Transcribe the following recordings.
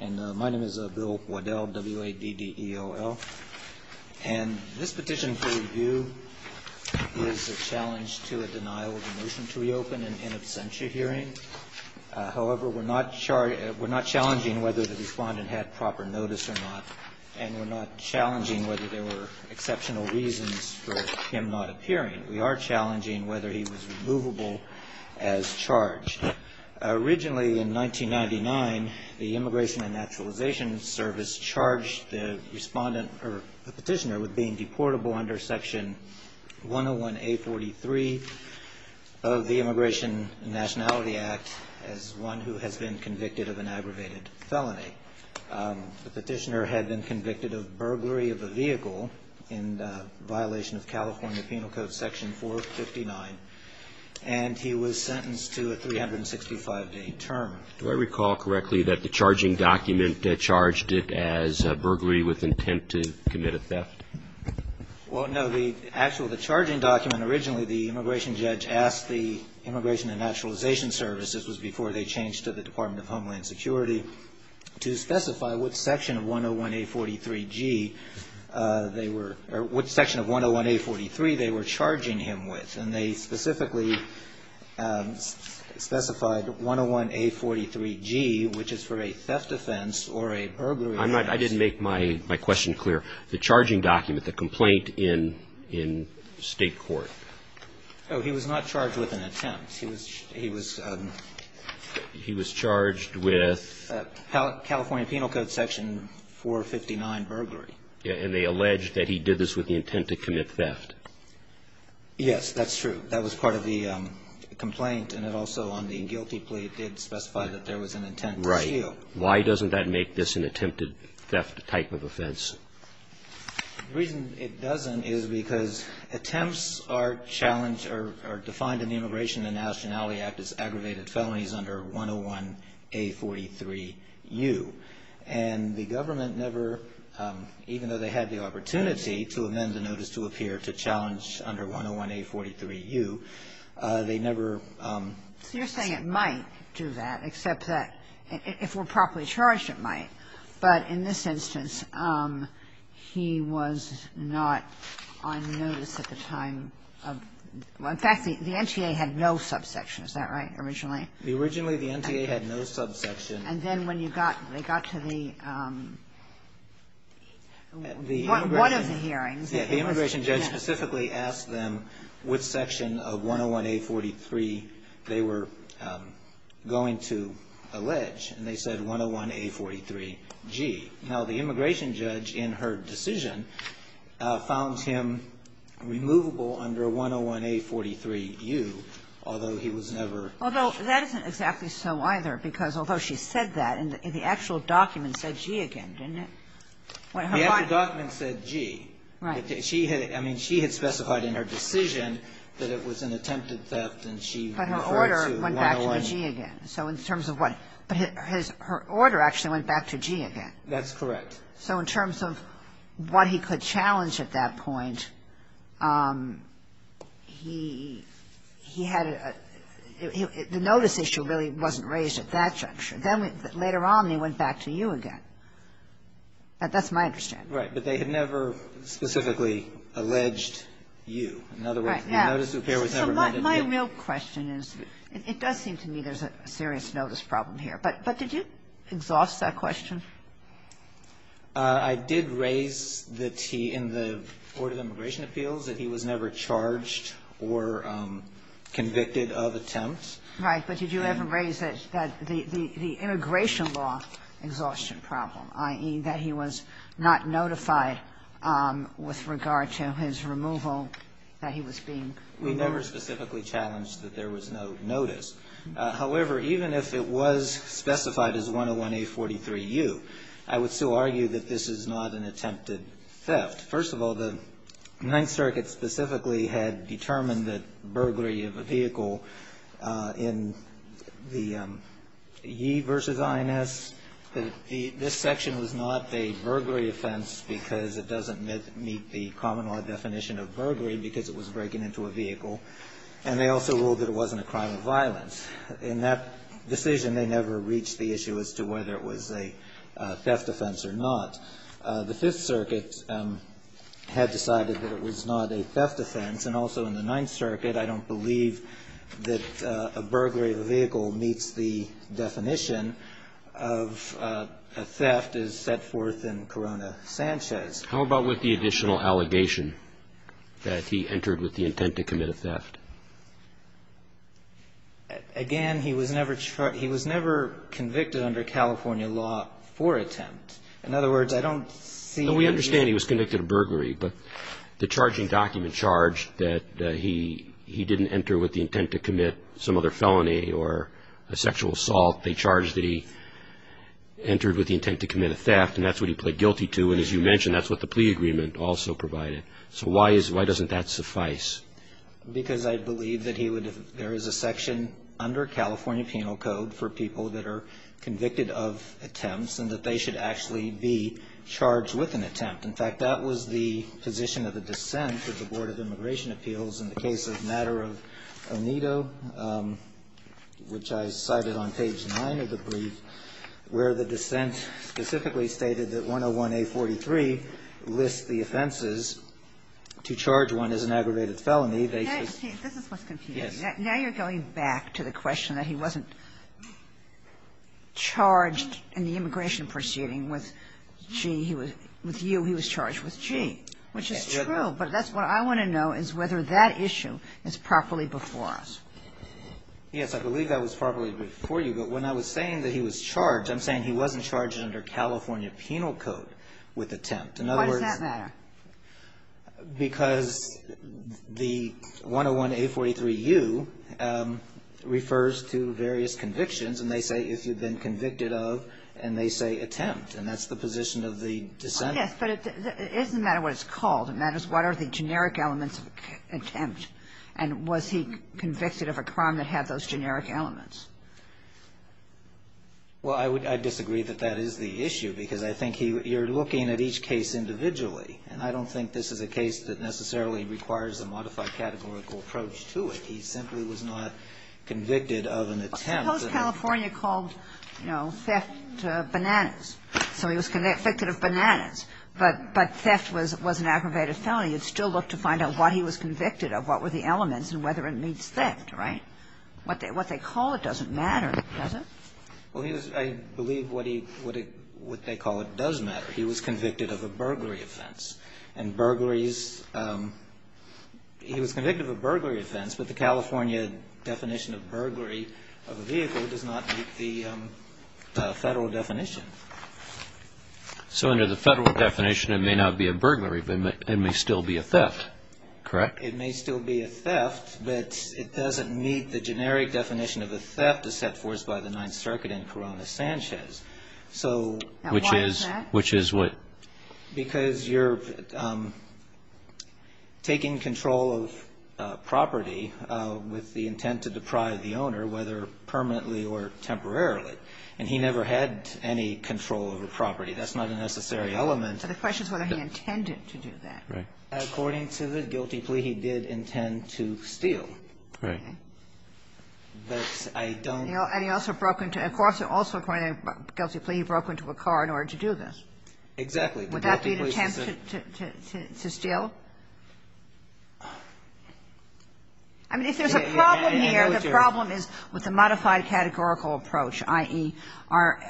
And my name is Bill Waddell, W-A-D-D-E-O-L. And this petition for review is a challenge to a denial of a motion to reopen in absentia hearing. However, we're not challenging whether the respondent had proper notice or not, and we're not challenging whether there were exceptional reasons for him not appearing. We are challenging whether he was removable as charged. Originally, in 1999, the Immigration and Naturalization Service charged the petitioner with being deportable under Section 101-A43 of the Immigration and Nationality Act as one who has been convicted of an aggravated felony. The petitioner had been convicted of burglary of a vehicle in violation of California Penal Code Section 459, and he was sentenced to a 365-day term. Do I recall correctly that the charging document charged it as burglary with intent to commit a theft? Well, no. The actual charging document, originally the immigration judge asked the Immigration and Naturalization Service, this was before they changed to the Department of Homeland Security, to specify what section of 101-A43G they were or what section of 101-A43 they were charging him with. And they specifically specified 101-A43G, which is for a theft offense or a burglary offense. I didn't make my question clear. The charging document, the complaint in State court. Oh, he was not charged with an attempt. He was charged with? California Penal Code Section 459, burglary. And they alleged that he did this with the intent to commit theft. Yes, that's true. That was part of the complaint, and it also, on the guilty plea, it did specify that there was an intent to steal. Right. Why doesn't that make this an attempted theft type of offense? The reason it doesn't is because attempts are challenged or defined in the Immigration and Nationality Act as aggravated felonies under 101-A43U. And the government never, even though they had the opportunity to amend the notice to appear to challenge under 101-A43U, they never ---- So you're saying it might do that, except that if it were properly charged, it might. Right. But in this instance, he was not on notice at the time of ---- In fact, the NTA had no subsection. Is that right, originally? Originally, the NTA had no subsection. And then when you got, they got to the, one of the hearings. The Immigration judge specifically asked them which section of 101-A43 they were going to allege, and they said 101-A43G. Now, the Immigration judge, in her decision, found him removable under 101-A43U, although he was never ---- Although that isn't exactly so either, because although she said that, the actual document said G again, didn't it? The actual document said G. Right. She had, I mean, she had specified in her decision that it was an attempted theft, and she referred to 101. But her order went back to G again. So in terms of what? But his, her order actually went back to G again. That's correct. So in terms of what he could challenge at that point, he, he had a, the notice issue really wasn't raised at that juncture. Then later on, they went back to U again. That's my understanding. Right. But they had never specifically alleged U. Right. In other words, the notice of appearance was never made in U. So my real question is, it does seem to me there's a serious notice problem here. But did you exhaust that question? I did raise the T in the order of immigration appeals, that he was never charged or convicted of attempt. Right. But did you ever raise that, that the, the immigration law exhaustion problem, i.e., that he was not notified with regard to his removal, that he was being removed? We never specifically challenged that there was no notice. However, even if it was specified as 101A43U, I would still argue that this is not an attempted theft. First of all, the Ninth Circuit specifically had determined that burglary of a vehicle in the E versus INS, that this section was not a burglary offense because it doesn't meet the common law definition of burglary because it was breaking into a vehicle. And they also ruled that it wasn't a crime of violence. In that decision, they never reached the issue as to whether it was a theft offense or not. The Fifth Circuit had decided that it was not a theft offense. And also in the Ninth Circuit, I don't believe that a burglary of a vehicle meets the definition of a theft as set forth in Corona-Sanchez. How about with the additional allegation that he entered with the intent to commit a theft? Again, he was never charged, he was never convicted under California law for attempt. In other words, I don't see... No, we understand he was convicted of burglary. But the charging document charged that he didn't enter with the intent to commit some other felony or a sexual assault. They charged that he entered with the intent to commit a theft, and that's what he pled guilty to. And as you mentioned, that's what the plea agreement also provided. So why doesn't that suffice? Because I believe that there is a section under California penal code for people that are convicted of attempts and that they should actually be charged with an attempt. In fact, that was the position of the dissent of the Board of Immigration Appeals in the case of Matter of Onedo, which I cited on page 9 of the brief, where the dissent specifically stated that 101A43 lists the offenses to charge one as an aggravated felony. They should... This is what's confusing. Now you're going back to the question that he wasn't charged in the immigration proceeding with G. With U, he was charged with G, which is true. But that's what I want to know is whether that issue is properly before us. Yes, I believe that was properly before you. But when I was saying that he was charged, I'm saying he wasn't charged under California penal code with attempt. Why does that matter? Because the 101A43U refers to various convictions. And they say if you've been convicted of, and they say attempt. And that's the position of the dissent. Yes, but it doesn't matter what it's called. It matters what are the generic elements of attempt. And was he convicted of a crime that had those generic elements? Well, I disagree that that is the issue. Because I think you're looking at each case individually. And I don't think this is a case that necessarily requires a modified categorical approach to it. He simply was not convicted of an attempt. Suppose California called, you know, theft bananas. So he was convicted of bananas. But theft was an aggravated felony. You'd still look to find out what he was convicted of, what were the elements, and whether it meets theft, right? What they call it doesn't matter, does it? Well, I believe what they call it does matter. He was convicted of a burglary offense. And burglaries, he was convicted of a burglary offense. But the California definition of burglary of a vehicle does not meet the Federal definition. So under the Federal definition, it may not be a burglary, but it may still be a theft, correct? It may still be a theft, but it doesn't meet the generic definition of a theft as set forth by the Ninth Circuit in Corona-Sanchez. So why is that? Which is what? Because you're taking control of property with the intent to deprive the owner, whether permanently or temporarily. And he never had any control over property. That's not a necessary element. The question is whether he intended to do that. Right. According to the guilty plea, he did intend to steal. Right. But I don't know. And he also broke into the car. Of course, also according to the guilty plea, he broke into a car in order to do this. Exactly. Would that be an attempt to steal? I mean, if there's a problem here, the problem is with the modified categorical approach, i.e., are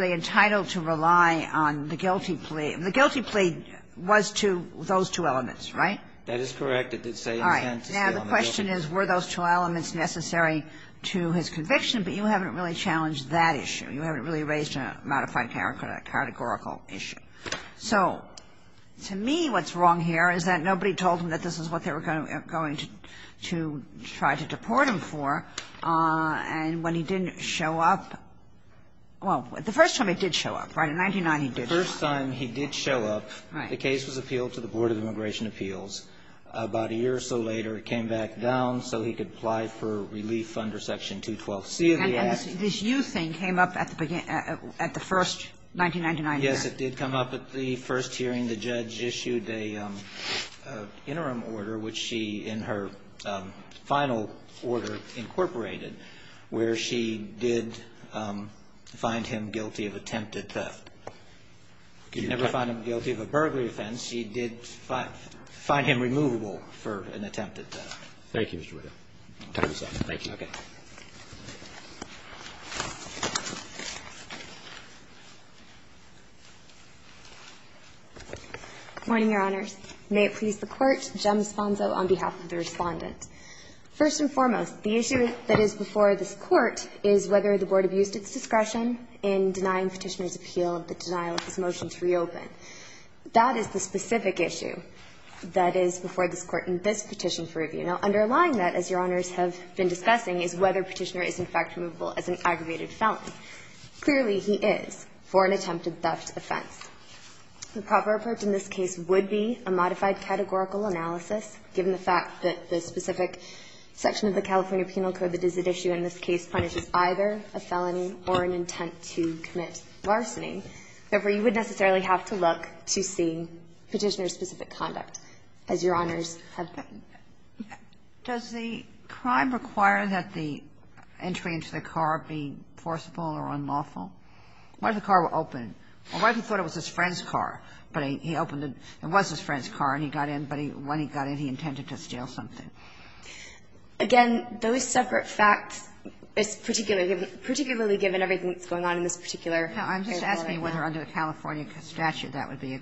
they entitled to rely on the guilty plea? The guilty plea was to those two elements, right? That is correct. It did say intent to steal. All right. Now, the question is, were those two elements necessary to his conviction? But you haven't really challenged that issue. You haven't really raised a modified categorical issue. So to me, what's wrong here is that nobody told him that this is what they were going to try to deport him for. And when he didn't show up, well, the first time he did show up, right, in 1999, he did show up. The first time he did show up, the case was appealed to the Board of Immigration Appeals. About a year or so later, it came back down so he could apply for relief under Section 212C of the Act. And this U thing came up at the first 1999 hearing. Yes, it did come up at the first hearing. The judge issued an interim order, which she, in her final order, incorporated, where she did find him guilty of attempted theft. She never found him guilty of a burglary offense. She did find him removable for an attempted theft. Thank you, Mr. Whittle. Thank you. Okay. Good morning, Your Honors. May it please the Court. Jem Sponzo on behalf of the Respondent. First and foremost, the issue that is before this Court is whether the Board abused its discretion in denying Petitioner's appeal of the denial of his motion to reopen. That is the specific issue that is before this Court in this petition for review. Now, underlying that, as Your Honors have been discussing, is whether Petitioner is in fact removable as an aggravated felony. Clearly, he is for an attempted theft offense. The proper approach in this case would be a modified categorical analysis, given the fact that the specific section of the California Penal Code that is at issue in this case punishes either a felony or an intent to commit larceny. Therefore, you would necessarily have to look to see Petitioner's specific conduct, as Your Honors have been. Does the crime require that the entry into the car be forcible or unlawful? What if the car were open? What if he thought it was his friend's car, but he opened it? It was his friend's car, and he got in, but when he got in, he intended to steal something? Again, those separate facts, particularly given everything that's going on in this particular case. Now, I'm just asking whether under the California statute that would be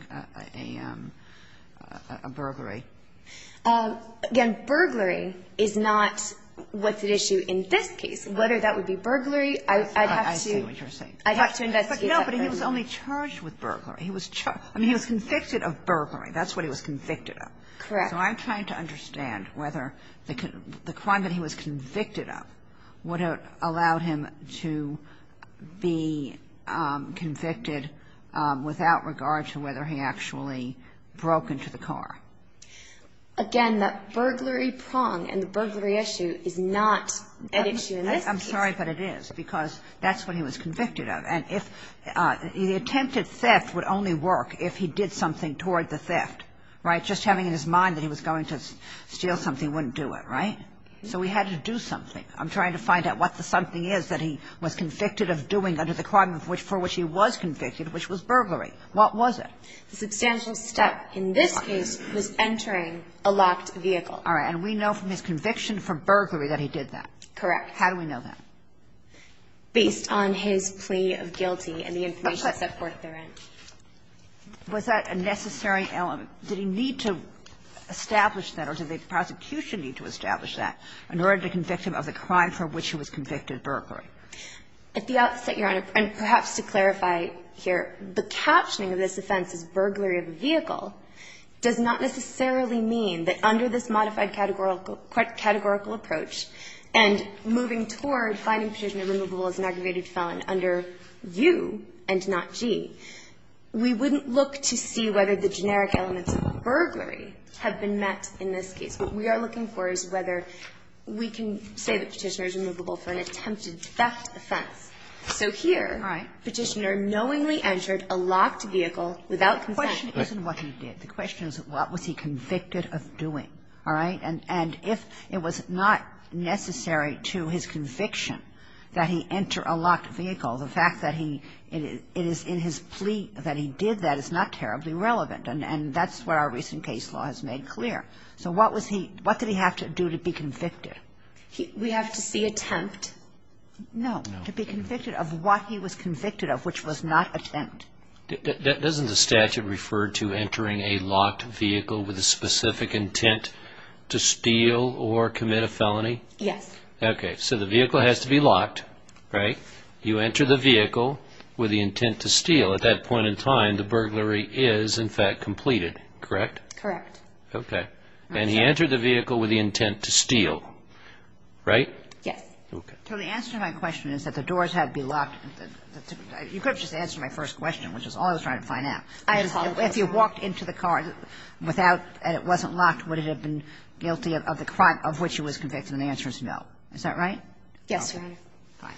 a burglary. Again, burglary is not what's at issue in this case. Whether that would be burglary, I'd have to see. I see what you're saying. I'd have to investigate that burglary. No, but he was only charged with burglary. I mean, he was convicted of burglary. That's what he was convicted of. Correct. So I'm trying to understand whether the crime that he was convicted of would have allowed him to be convicted without regard to whether he actually broke into the car. Again, the burglary prong and the burglary issue is not at issue in this case. I'm sorry, but it is, because that's what he was convicted of. And if the attempted theft would only work if he did something toward the theft. Right? Just having in his mind that he was going to steal something wouldn't do it. Right? So he had to do something. I'm trying to find out what the something is that he was convicted of doing under the crime for which he was convicted, which was burglary. What was it? The substantial step in this case was entering a locked vehicle. All right. And we know from his conviction for burglary that he did that. Correct. How do we know that? Based on his plea of guilty and the information set forth therein. Was that a necessary element? Did he need to establish that, or did the prosecution need to establish that in order to convict him of the crime for which he was convicted, burglary? At the outset, Your Honor, and perhaps to clarify here, the captioning of this offense as burglary of a vehicle does not necessarily mean that under this modified categorical approach, and moving toward finding Petitioner removable as an aggravated felon under U and not G, we wouldn't look to see whether the generic elements of burglary have been met in this case. What we are looking for is whether we can say that Petitioner is removable for an attempted theft offense. So here Petitioner knowingly entered a locked vehicle without consent. The question isn't what he did. The question is what was he convicted of doing. All right? And if it was not necessary to his conviction that he enter a locked vehicle, the fact that he – it is in his plea that he did that is not terribly relevant. And that's what our recent case law has made clear. So what was he – what did he have to do to be convicted? We have to see attempt. No. To be convicted of what he was convicted of, which was not attempt. Doesn't the statute refer to entering a locked vehicle with a specific intent to steal or commit a felony? Yes. Okay. So the vehicle has to be locked, right? You enter the vehicle with the intent to steal. At that point in time, the burglary is, in fact, completed, correct? Correct. Okay. And he entered the vehicle with the intent to steal, right? Yes. Okay. So the answer to my question is that the doors had to be locked. You could have just answered my first question, which is all I was trying to find out. I apologize. If he had walked into the car without – and it wasn't locked, would it have been guilty of the crime of which he was convicted? And the answer is no. Is that right? Yes, Your Honor. Fine.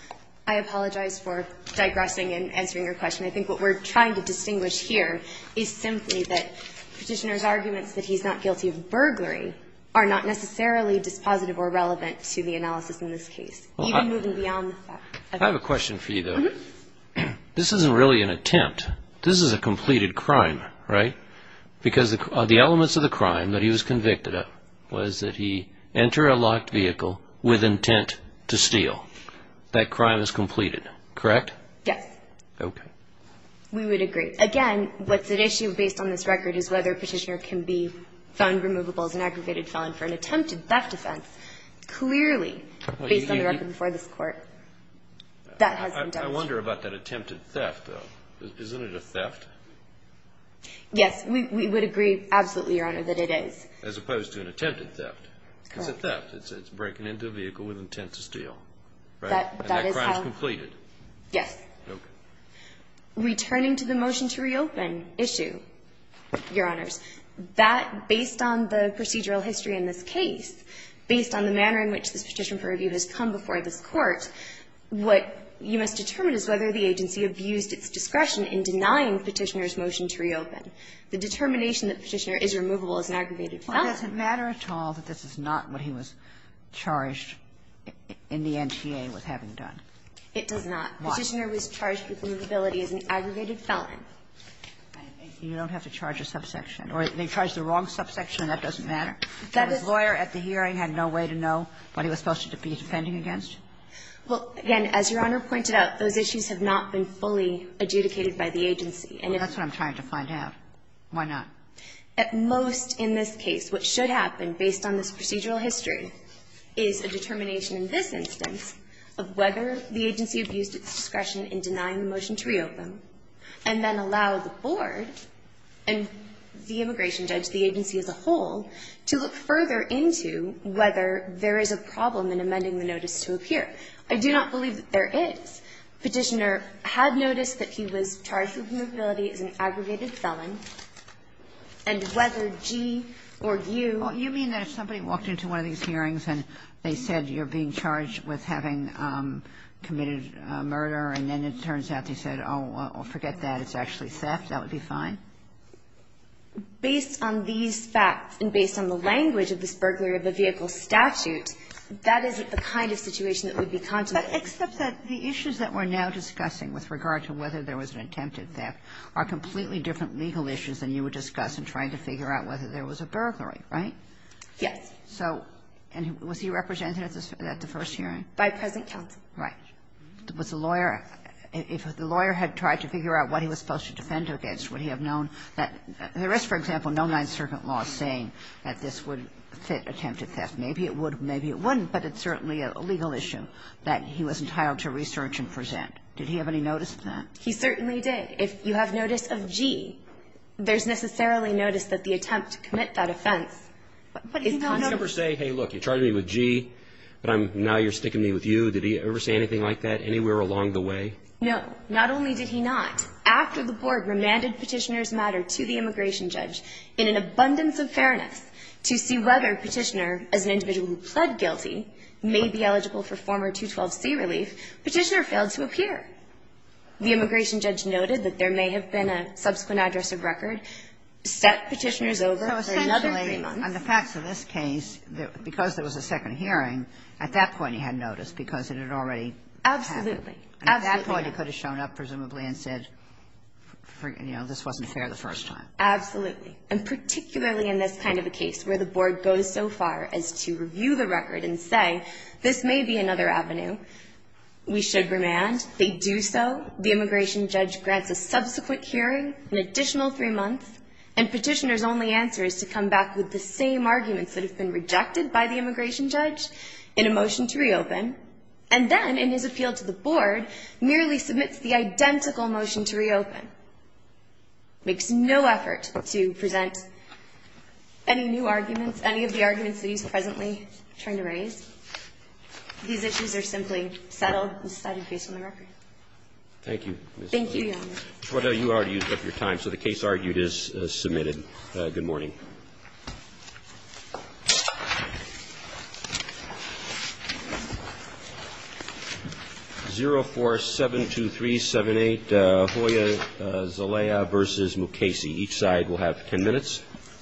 I apologize for digressing and answering your question. I think what we're trying to distinguish here is simply that Petitioner's arguments that he's not guilty of burglary are not necessarily dispositive or relevant to the analysis in this case, even moving beyond the fact. I have a question for you, though. Mm-hmm. This isn't really an attempt. This is a completed crime, right? Because the elements of the crime that he was convicted of was that he entered a locked vehicle with intent to steal. That crime is completed, correct? Yes. Okay. We would agree. Again, what's at issue based on this record is whether Petitioner can be found removable as an aggravated felon for an attempted theft offense, clearly based on the record before this Court. That has been demonstrated. I wonder about that attempted theft, though. Isn't it a theft? Yes. We would agree absolutely, Your Honor, that it is. As opposed to an attempted theft. Correct. It's a theft. It's breaking into a vehicle with intent to steal, right? That is how. And that crime is completed. Yes. Okay. Returning to the motion to reopen issue, Your Honors, that, based on the procedural history in this case, based on the manner in which this petition for review has come before this Court, what you must determine is whether the agency abused its discretion in denying Petitioner's motion to reopen. The determination that Petitioner is removable as an aggravated felon. Well, does it matter at all that this is not what he was charged in the NTA with having done? It does not. Why? Petitioner was charged with removability as an aggregated felon. You don't have to charge a subsection. Or they charge the wrong subsection and that doesn't matter? That his lawyer at the hearing had no way to know what he was supposed to be defending against? Well, again, as Your Honor pointed out, those issues have not been fully adjudicated by the agency. And if you're trying to find out, why not? At most in this case, what should happen, based on this procedural history, is a determination in this instance of whether the agency abused its discretion in denying the motion to reopen, and then allow the board and the immigration judge, the agency as a whole, to look further into whether there is a problem in amending the notice to appear. I do not believe that there is. Petitioner had noticed that he was charged with removability as an aggregated felon, and whether G or U or G or U. Well, you mean that if somebody walked into one of these hearings and they said you're being charged with having committed murder, and then it turns out they said, oh, forget that, it's actually theft, that would be fine? Based on these facts and based on the language of this burglary of the vehicle statute, that isn't the kind of situation that would be contemplated. But except that the issues that we're now discussing with regard to whether there was an attempted theft are completely different legal issues than you would discuss in trying to figure out whether there was a burglary, right? Yes. So, and was he represented at the first hearing? By present counsel. Right. Was the lawyer, if the lawyer had tried to figure out what he was supposed to defend against, would he have known that there is, for example, no Ninth Circuit law saying that this would fit attempted theft. Maybe it would, maybe it wouldn't, but it's certainly a legal issue that he was entitled to research and present. Did he have any notice of that? He certainly did. If you have notice of G, there's necessarily notice that the attempt to commit that offense is contemplated. Did he ever say, hey, look, you charged me with G, but I'm, now you're sticking me with you? Did he ever say anything like that anywhere along the way? No. Not only did he not, after the board remanded Petitioner's matter to the immigration judge in an abundance of fairness to see whether Petitioner, as an individual who pled guilty, may be eligible for former 212c relief, Petitioner failed to appear. The immigration judge noted that there may have been a subsequent address of record, set Petitioner's over for another three months. And the facts of this case, because there was a second hearing, at that point he had notice because it had already happened. Absolutely. Absolutely. At that point, he could have shown up, presumably, and said, you know, this wasn't fair the first time. Absolutely. And particularly in this kind of a case where the board goes so far as to review the record and say, this may be another avenue, we should remand, they do so, the immigration judge grants a subsequent hearing, an additional three months, and Petitioner's only answer is to come back with the same arguments that have been rejected by the immigration judge in a motion to reopen, and then, in his appeal to the board, merely submits the identical motion to reopen. Makes no effort to present any new arguments, any of the arguments that he's presently trying to raise. These issues are simply settled and decided based on the record. Thank you, Ms. Sotomayor. Thank you, Your Honor. Troy, you already used up your time, so the case argued is submitted. Good morning. 0472378, Hoya, Zelaya v. Mukasey. Each side will have 10 minutes.